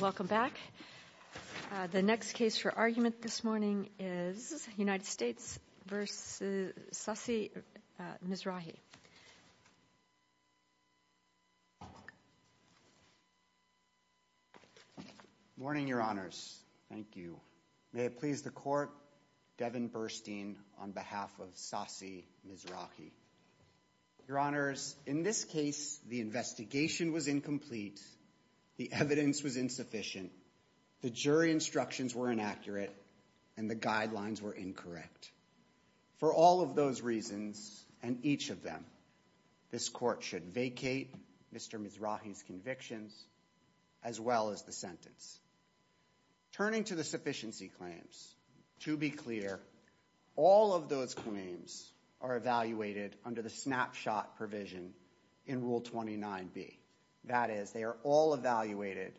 Welcome back. The next case for argument this morning is United States v. Sassi Mizrahi. Your Honors, in this case, the investigation was incomplete, the evidence was insufficient, the jury instructions were inaccurate, and the guidelines were incorrect. For all of those reasons, and each of them, this court should vacate Mr. Mizrahi's convictions as well as the sentence. Turning to the sufficiency claims, to be clear, all of those claims are evaluated under the snapshot provision in Rule 29B. That is, they are all evaluated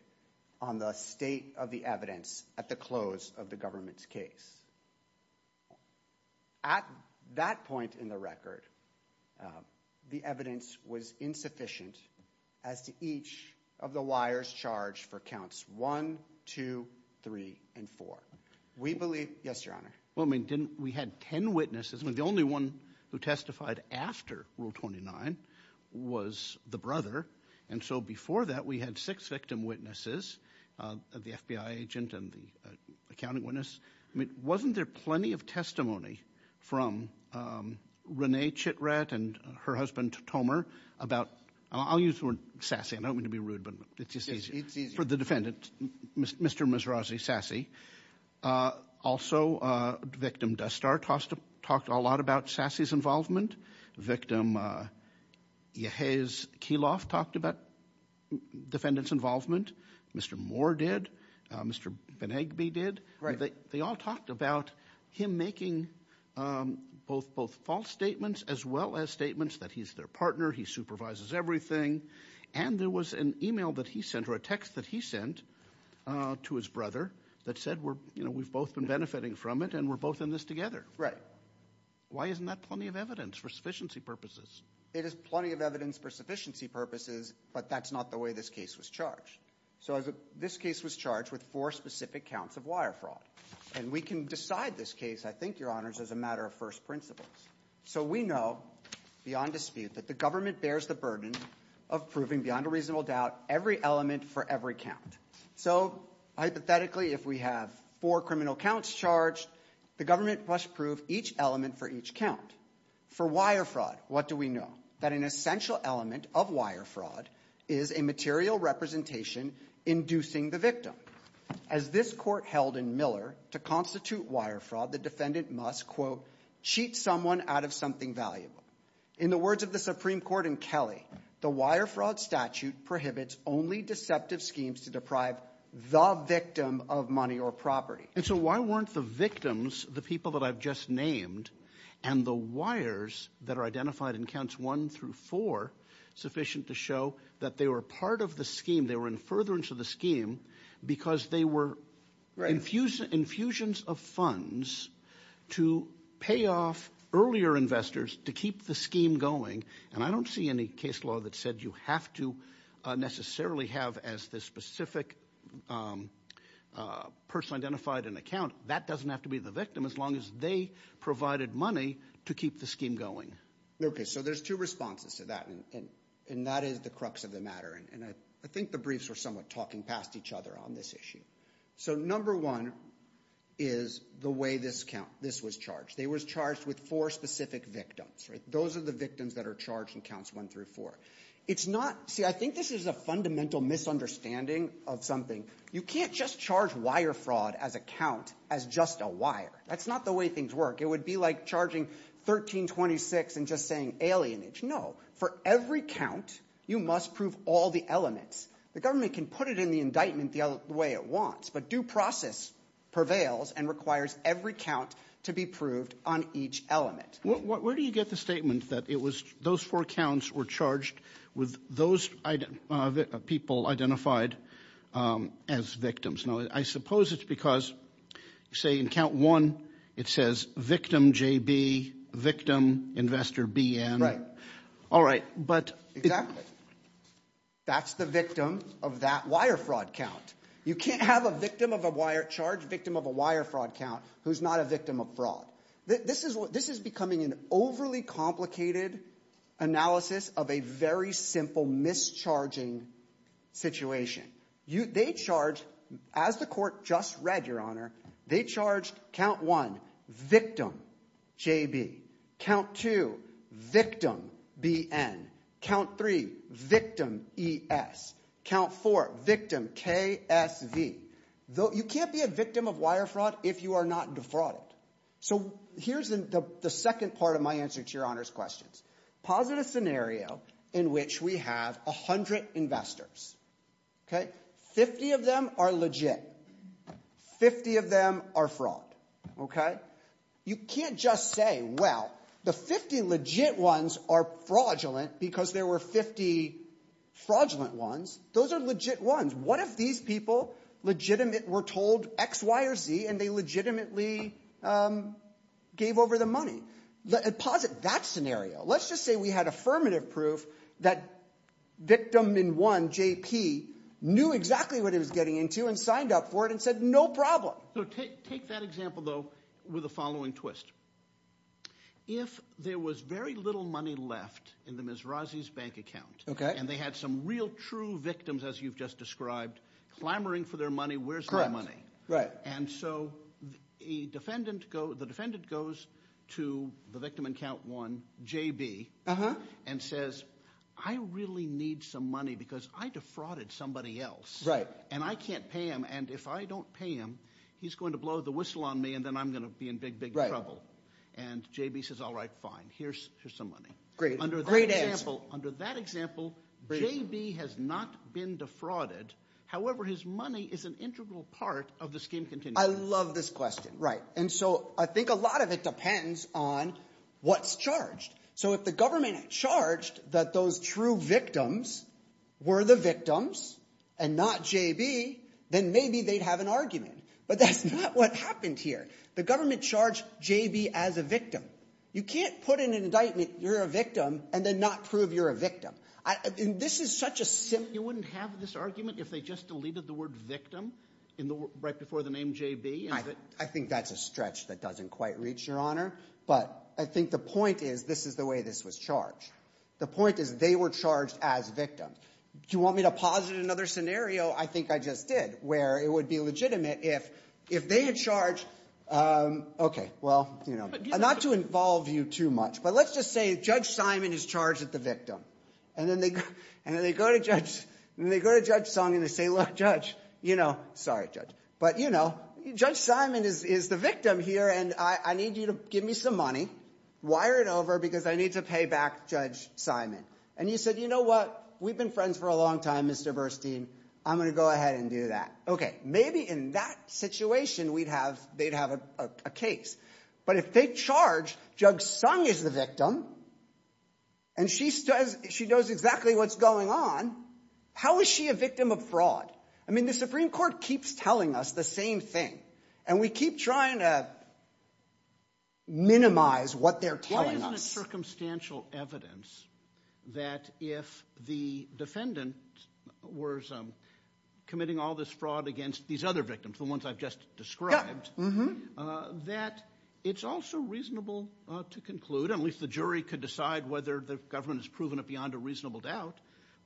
on the state of the evidence at the close of the government's case. At that point in the record, the evidence was insufficient as to each of the liars charged for counts 1, 2, 3, and 4. We believe, yes, Your Honor. Well, I mean, didn't, we had 10 witnesses, I mean, the only one who testified after Rule 29 was the brother, and so before that we had six victim witnesses, the FBI agent and the accounting witness. I mean, wasn't there plenty of testimony from Renee Chitret and her husband, Tomer, about, I'll use the word Sassi, I don't mean to be rude, but it's just easier, for the defendant, Mr. Mizrahi, Sassi. Also victim Duster talked a lot about Sassi's involvement. Victim Yehez Keyloff talked about defendant's involvement. Mr. Moore did. Mr. Venegbe did. They all talked about him making both false statements as well as statements that he's their partner, he supervises everything, and there was an email that he sent or a text that he sent to his brother that said we've both been benefiting from it and we're both in this together. Right. Why isn't that plenty of evidence for sufficiency purposes? It is plenty of evidence for sufficiency purposes, but that's not the way this case was charged. So this case was charged with four specific counts of wire fraud, and we can decide this case, I think, your honors, as a matter of first principles. So we know beyond dispute that the government bears the burden of proving beyond a reasonable doubt every element for every count. So hypothetically, if we have four criminal counts charged, the government must prove each element for each count. For wire fraud, what do we know? We know that an essential element of wire fraud is a material representation inducing the victim. As this court held in Miller, to constitute wire fraud, the defendant must, quote, cheat someone out of something valuable. In the words of the Supreme Court in Kelly, the wire fraud statute prohibits only deceptive schemes to deprive the victim of money or property. And so why weren't the victims, the people that I've just named, and the wires that are identified in counts one through four, sufficient to show that they were part of the scheme, they were in furtherance of the scheme, because they were infusions of funds to pay off earlier investors to keep the scheme going. And I don't see any case law that said you have to necessarily have as the specific person identified an account. That doesn't have to be the victim, as long as they provided money to keep the scheme going. Okay, so there's two responses to that, and that is the crux of the matter. And I think the briefs were somewhat talking past each other on this issue. So number one is the way this count, this was charged. They were charged with four specific victims, right? Those are the victims that are charged in counts one through four. It's not, see, I think this is a fundamental misunderstanding of something. You can't just charge wire fraud as a count as just a wire. That's not the way things work. It would be like charging 1326 and just saying alienage. No, for every count, you must prove all the elements. The government can put it in the indictment the way it wants, but due process prevails and requires every count to be proved on each element. Where do you get the statement that it was, those four counts were charged with those people identified as victims? No, I suppose it's because, say, in count one, it says victim JB, victim investor BN. All right, but- Exactly. That's the victim of that wire fraud count. You can't have a victim of a wire charge, victim of a wire fraud count who's not a victim of fraud. This is becoming an overly complicated analysis of a very simple mischarging situation. They charge, as the court just read, Your Honor, they charged count one, victim JB, count two, victim BN, count three, victim ES, count four, victim KSV. You can't be a victim of wire fraud if you are not defrauded. Here's the second part of my answer to Your Honor's questions. Posit a scenario in which we have 100 investors. 50 of them are legit. 50 of them are fraud. Okay? You can't just say, well, the 50 legit ones are fraudulent because there were 50 fraudulent ones. Those are legit ones. What if these people were told X, Y, or Z, and they legitimately gave over the money? Posit that scenario. Let's just say we had affirmative proof that victim in one, JP, knew exactly what he was getting into and signed up for it and said, no problem. Take that example, though, with the following twist. If there was very little money left in the Mizrazi's bank account, and they had some real true victims, as you've just described, clamoring for their money, where's my money? And so the defendant goes to the victim in count one, JB, and says, I really need some money because I defrauded somebody else, and I can't pay him, and if I don't pay him, he's going to blow the whistle on me, and then I'm going to be in big, big trouble. And JB says, all right, fine. Here's some money. Great. Great answer. Under that example, JB has not been defrauded. However, his money is an integral part of the scheme continuing. I love this question. And so I think a lot of it depends on what's charged. So if the government charged that those true victims were the victims and not JB, then maybe they'd have an argument. But that's not what happened here. The government charged JB as a victim. You can't put in an indictment you're a victim and then not prove you're a victim. This is such a simple- So you're saying you wouldn't have this argument if they just deleted the word victim right before the name JB? I think that's a stretch that doesn't quite reach, Your Honor. But I think the point is, this is the way this was charged. The point is, they were charged as victims. You want me to posit another scenario? I think I just did, where it would be legitimate if they had charged, okay, well, not to involve you too much, but let's just say Judge Simon is charged as the victim. And then they go to Judge Sung and they say, look, Judge, you know, sorry, Judge, but you know, Judge Simon is the victim here and I need you to give me some money, wire it over because I need to pay back Judge Simon. And you said, you know what, we've been friends for a long time, Mr. Burstein. I'm going to go ahead and do that. Okay, maybe in that situation, they'd have a case. But if they charge Judge Sung as the victim and she knows exactly what's going on, how is she a victim of fraud? I mean, the Supreme Court keeps telling us the same thing and we keep trying to minimize what they're telling us. Why isn't it circumstantial evidence that if the defendant was committing all this fraud against these other victims, the ones I've just described, that it's also reasonable to conclude, at least the jury could decide whether the government has proven it beyond a reasonable doubt,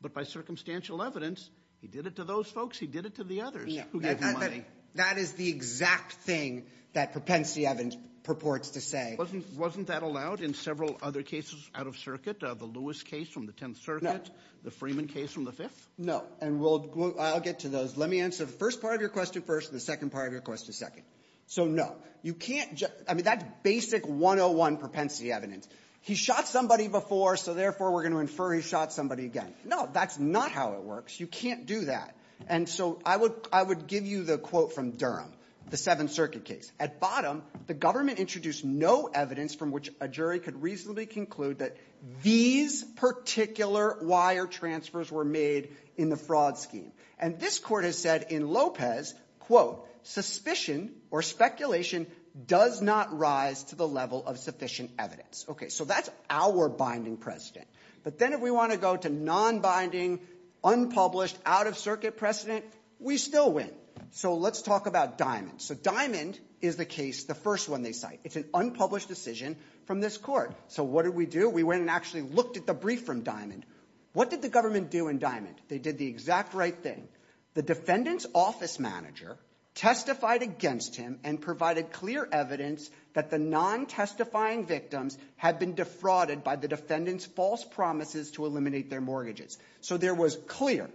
but by circumstantial evidence, he did it to those folks, he did it to the others who gave him money. That is the exact thing that Propensy Evans purports to say. Wasn't that allowed in several other cases out of circuit, the Lewis case from the Tenth Circuit, the Freeman case from the Fifth? No. And I'll get to those. Let me answer the first part of your question first and the second part of your question second. So, no. You can't, I mean, that's basic 101 Propensity evidence. He shot somebody before, so therefore we're going to infer he shot somebody again. No, that's not how it works. You can't do that. And so I would give you the quote from Durham, the Seventh Circuit case. At bottom, the government introduced no evidence from which a jury could reasonably conclude that these particular wire transfers were made in the fraud scheme. And this court has said in Lopez, quote, suspicion or speculation does not rise to the level of sufficient evidence. Okay, so that's our binding precedent. But then if we want to go to non-binding, unpublished, out-of-circuit precedent, we still win. So let's talk about Diamond. So Diamond is the case, the first one they cite. It's an unpublished decision from this court. So what did we do? We went and actually looked at the brief from Diamond. What did the government do in Diamond? They did the exact right thing. The defendant's office manager testified against him and provided clear evidence that the non-testifying victims had been defrauded by the defendant's false promises to eliminate their mortgages. So there was clear,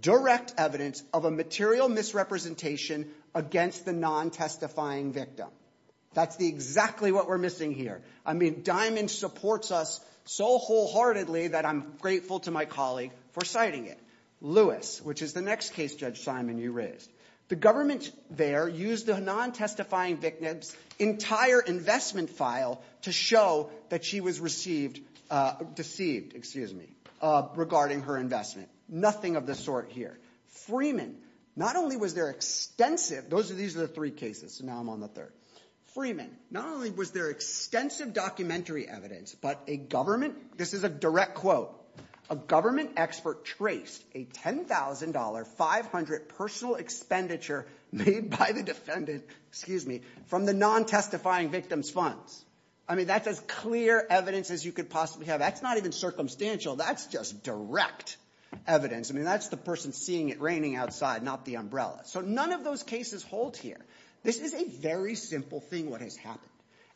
direct evidence of a material misrepresentation against the non-testifying victim. That's exactly what we're missing here. I mean, Diamond supports us so wholeheartedly that I'm grateful to my colleague for citing it. Lewis, which is the next case, Judge Simon, you raised. The government there used the non-testifying victim's entire investment file to show that she was received, deceived, excuse me, regarding her investment. Nothing of the sort here. Freeman, not only was there extensive, those are, these are the three cases, so now I'm on the third. Freeman, not only was there extensive documentary evidence, but a government, this is a direct quote, a government expert traced a $10,000, 500 personal expenditure made by the defendant, excuse me, from the non-testifying victim's funds. I mean, that's as clear evidence as you could possibly have. That's not even circumstantial. That's just direct evidence. I mean, that's the person seeing it raining outside, not the umbrella. So none of those cases hold here. This is a very simple thing, what has happened.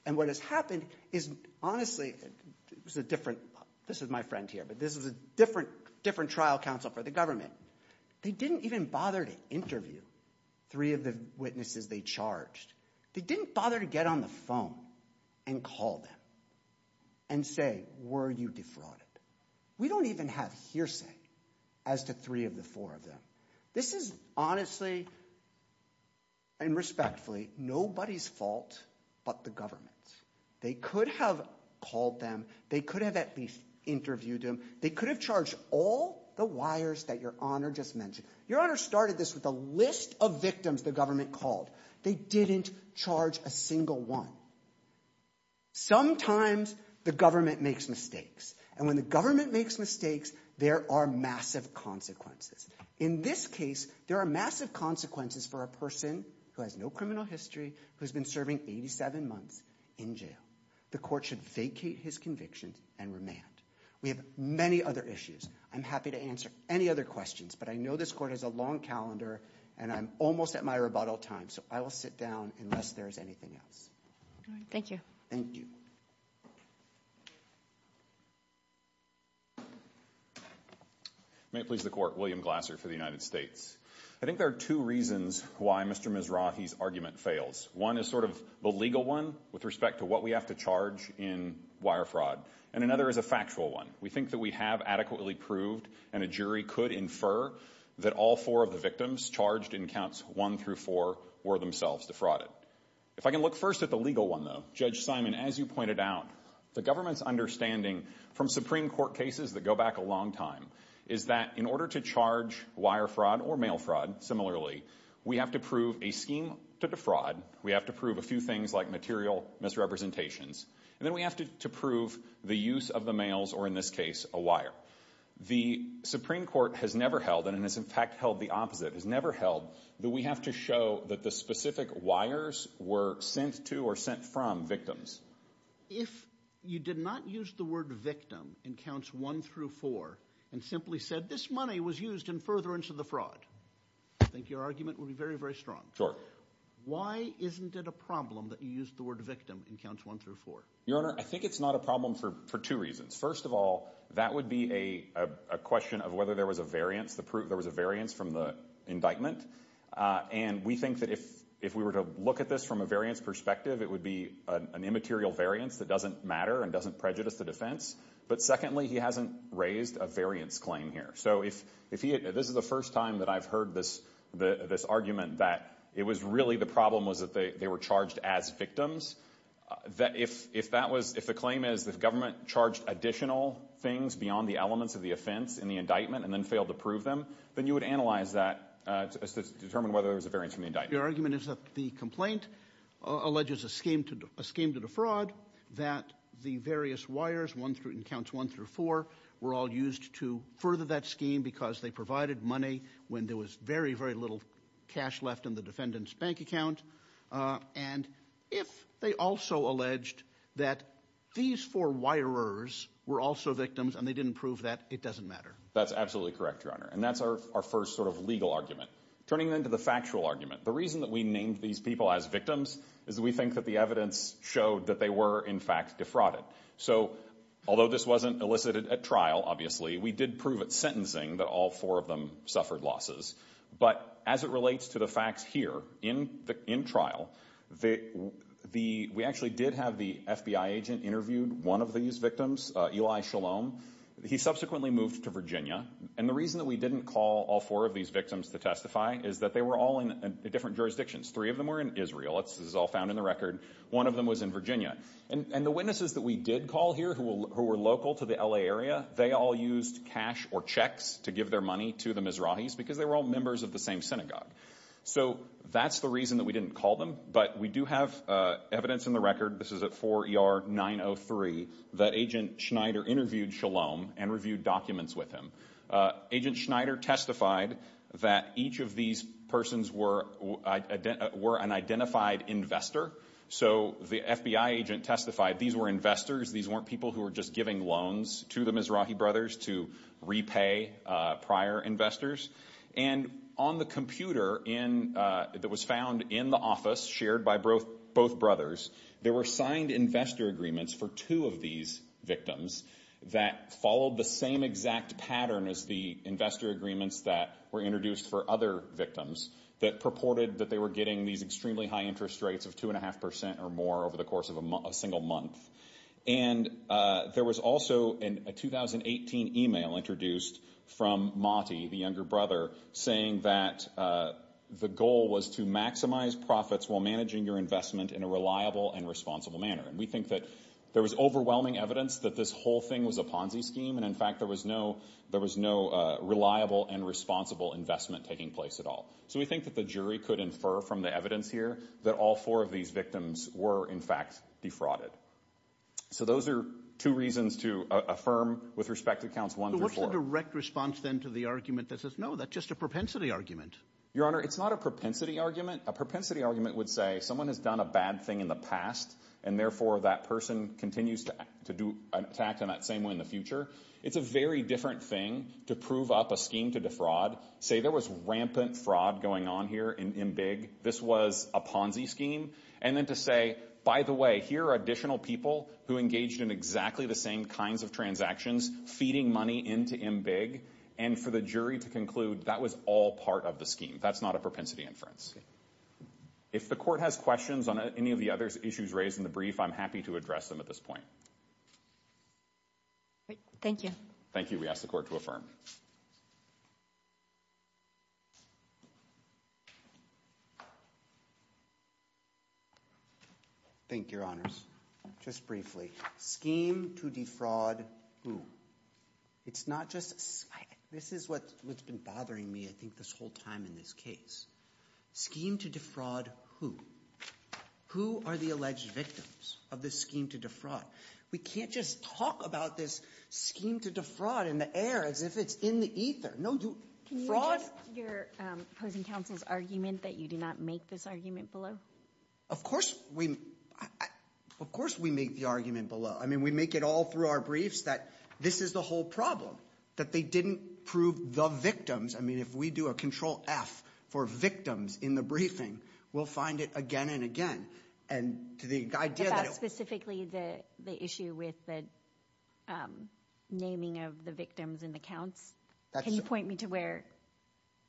And what has happened is, honestly, it was a different, this is my friend here, but this is a different, different trial counsel for the government. They didn't even bother to interview three of the witnesses they charged. They didn't bother to get on the phone and call them and say, were you defrauded? We don't even have hearsay as to three of the four of them. This is honestly and respectfully nobody's fault but the government. They could have called them. They could have at least interviewed them. They could have charged all the wires that Your Honor just mentioned. Your Honor started this with a list of victims the government called. They didn't charge a single one. Sometimes the government makes mistakes. And when the government makes mistakes, there are massive consequences. In this case, there are massive consequences for a person who has no criminal history, who's been serving 87 months in jail. The court should vacate his conviction and remand. We have many other issues. I'm happy to answer any other questions, but I know this court has a long calendar, and I'm almost at my rebuttal time, so I will sit down unless there's anything else. Thank you. Thank you. May it please the court, William Glasser for the United States. I think there are two reasons why Mr. Mizrahi's argument fails. One is sort of the legal one with respect to what we have to charge in wire fraud, and another is a factual one. We think that we have adequately proved, and a jury could infer, that all four of the victims charged in counts one through four were themselves defrauded. If I can look first at the legal one, though, Judge Simon, as you pointed out, the government's understanding from Supreme Court cases that go back a long time is that in order to charge wire fraud or mail fraud, similarly, we have to prove a scheme to defraud. We have to prove a few things like material misrepresentations. And then we have to prove the use of the mails, or in this case, a wire. The Supreme Court has never held, and it has in fact held the opposite, has never held that we have to show that the specific wires were sent to or sent from victims. If you did not use the word victim in counts one through four, and simply said this money was used in furtherance of the fraud, I think your argument would be very, very strong. Why isn't it a problem that you used the word victim in counts one through four? Your Honor, I think it's not a problem for two reasons. First of all, that would be a question of whether there was a variance, the proof there was a variance from the indictment. And we think that if we were to look at this from a variance perspective, it would be an immaterial variance that doesn't matter and doesn't prejudice the defense. But secondly, he hasn't raised a variance claim here. So if he, this is the first time that I've heard this argument that it was really the problem was that they were charged as victims. That if that was, if the claim is the government charged additional things beyond the elements of the offense in the indictment, and then failed to prove them, then you would analyze that to determine whether there was a variance from the indictment. Your argument is that the complaint alleges a scheme to defraud, that the various wires, one through, in counts one through four, were all used to further that scheme because they provided money when there was very, very little cash left in the defendant's bank account. And if they also alleged that these four wirers were also victims and they didn't prove that, it doesn't matter. That's absolutely correct, Your Honor. And that's our first sort of legal argument. Turning then to the factual argument, the reason that we named these people as victims is we think that the evidence showed that they were, in fact, defrauded. So although this wasn't elicited at trial, obviously, we did prove at sentencing that all four of them suffered losses. But as it relates to the facts here, in trial, we actually did have the FBI agent interviewed one of these victims, Eli Shalom. He subsequently moved to Virginia. And the reason that we didn't call all four of these victims to testify is that they were all in different jurisdictions. Three of them were in Israel. This is all found in the record. One of them was in Virginia. And the witnesses that we did call here who were local to the LA area, they all used cash or checks to give their money to the Mizrahis because they were all members of the same synagogue. So that's the reason that we didn't call them. But we do have evidence in the record, this is at 4 ER 903, that Agent Schneider interviewed Shalom and reviewed documents with him. Agent Schneider testified that each of these persons were an identified investor. So the FBI agent testified these were investors. These weren't people who were just giving loans to the Mizrahi brothers to repay prior investors. And on the computer that was found in the office shared by both brothers, there were signed investor agreements for two of these victims that followed the same exact pattern as the investor agreements that were introduced for other victims that purported that they were getting these extremely high interest rates of 2.5% or more over the course of a single month. And there was also a 2018 email introduced from Motti, the younger brother, saying that the goal was to maximize profits while managing your investment in a reliable and responsible manner. And we think that there was overwhelming evidence that this whole thing was a Ponzi scheme. And in fact, there was no reliable and responsible investment taking place at all. So we think that the jury could infer from the evidence here that all four of these victims were, in fact, defrauded. So those are two reasons to affirm with respect to counts one through four. What's the direct response then to the argument that says, no, that's just a propensity argument? Your Honor, it's not a propensity argument. A propensity argument would say someone has done a bad thing in the past, and therefore, that person continues to do an attack on that same way in the future. It's a very different thing to prove up a scheme to defraud. Say there was rampant fraud going on here in MBIG. This was a Ponzi scheme. And then to say, by the way, here are additional people who engaged in exactly the same kinds of transactions, feeding money into MBIG. And for the jury to conclude, that was all part of the scheme. That's not a propensity inference. If the court has questions on any of the other issues raised in the brief, I'm happy to address them at this point. Thank you. Thank you. We ask the court to affirm. Thank you, Your Honors. Just briefly, scheme to defraud who? It's not just, this is what's been bothering me, I think, this whole time in this case. Scheme to defraud who? Who are the alleged victims of this scheme to defraud? We can't just talk about this scheme to defraud in the air as if it's in the ether. No, you fraud- Can you address your opposing counsel's argument that you did not make this argument below? Of course we make the argument below. I mean, we make it all through our briefs that this is the whole problem. That they didn't prove the victims. I mean, if we do a Control-F for victims in the briefing, we'll find it again and again. And to the idea that- Is that specifically the issue with the naming of the victims in the counts? Can you point me to where-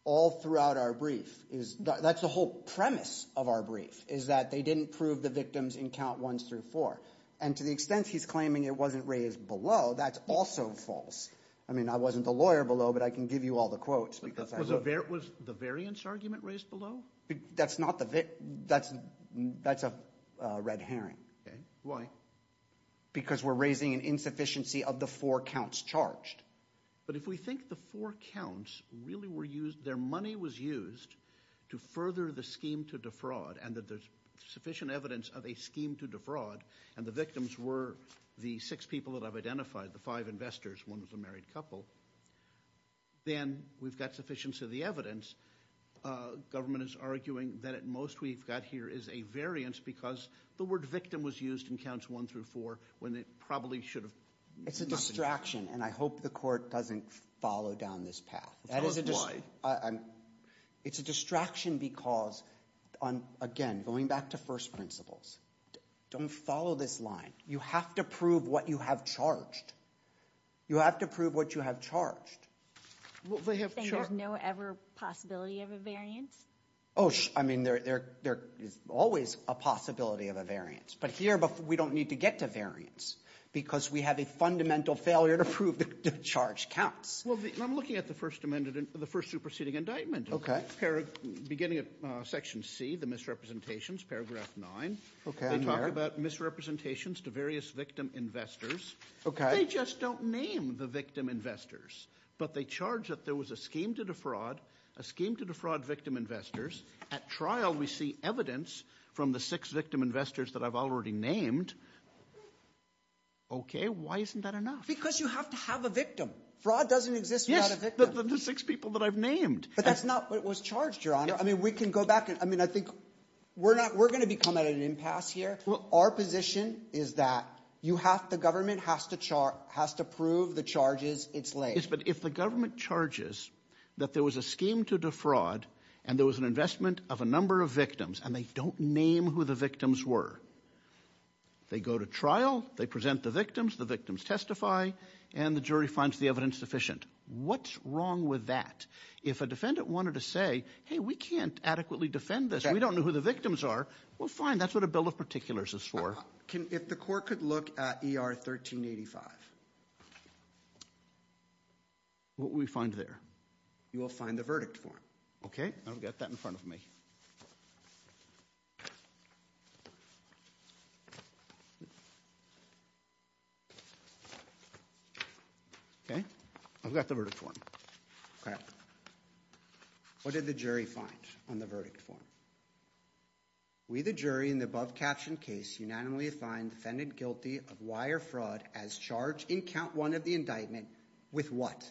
All throughout our brief is, that's the whole premise of our brief, is that they didn't prove the victims in count ones through four. And to the extent he's claiming it wasn't raised below, that's also false. I mean, I wasn't the lawyer below, but I can give you all the quotes. Was the variance argument raised below? That's not the- That's a red herring. Why? Because we're raising an insufficiency of the four counts charged. But if we think the four counts really were used, their money was used to further the scheme to defraud, and that there's sufficient evidence of a scheme to defraud, and the victims were the six people that I've identified, the five investors, one was a married couple, then we've got sufficiency of the evidence. Government is arguing that at most we've got here is a variance because the word victim was used in counts one through four when it probably should have- It's a distraction, and I hope the court doesn't follow down this path. Of course, why? It's a distraction because, again, going back to first principles, don't follow this line. You have to prove what you have charged. You have to prove what you have charged. They have no ever possibility of a variance? Oh, I mean, there is always a possibility of a variance, but here we don't need to get to variance because we have a fundamental failure to prove the charge counts. Well, I'm looking at the first superseding indictment. Okay. Beginning of section C, the misrepresentations, paragraph nine. They talk about misrepresentations to various victim investors. They just don't name the victim investors, but they charge that there was a scheme to defraud, a scheme to defraud victim investors. At trial, we see evidence from the six victim investors that I've already named. Okay, why isn't that enough? Because you have to have a victim. Fraud doesn't exist without a victim. Yes, the six people that I've named. But that's not what was charged, Your Honour. I mean, we can go back and, I mean, I think... We're going to become at an impasse here. Our position is that the government has to prove the charges it's laid. Yes, but if the government charges that there was a scheme to defraud and there was an investment of a number of victims and they don't name who the victims were, they go to trial, they present the victims, the victims testify and the jury finds the evidence sufficient. What's wrong with that? If a defendant wanted to say, hey, we can't adequately defend this, we don't know who the victims are, well, fine, that's what a bill of particulars is for. If the court could look at ER 1385? What would we find there? You will find the verdict form. Okay, I've got that in front of me. Okay, I've got the verdict form. Okay. What did the jury find on the verdict form? We, the jury, in the above-captioned case, unanimously find the defendant guilty of wire fraud as charged in count one of the indictment with what?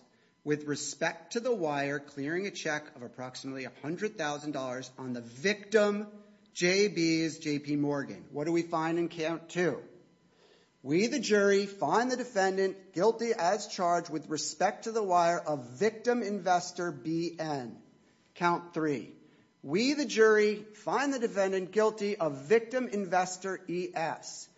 With respect to the wire clearing a check of approximately $100,000 on the victim, J.B.'s, J.P. Morgan. What do we find in count two? We, the jury, find the defendant guilty as charged with respect to the wire of victim investor B.N. Count three. We, the jury, find the defendant guilty of victim investor E.S.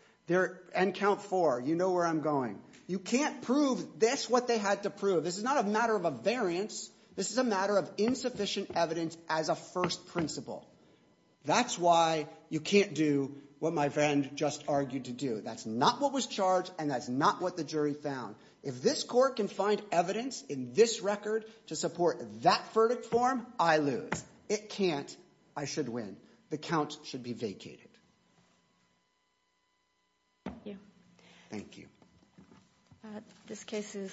And count four, you know where I'm going. You can't prove this what they had to prove. This is not a matter of a variance. This is a matter of insufficient evidence as a first principle. That's why you can't do what my friend just argued to do. That's not what was charged and that's not what the jury found. If this court can find evidence in this record to support that verdict form, I lose. It can't. I should win. The count should be vacated. Thank you. This case is submitted.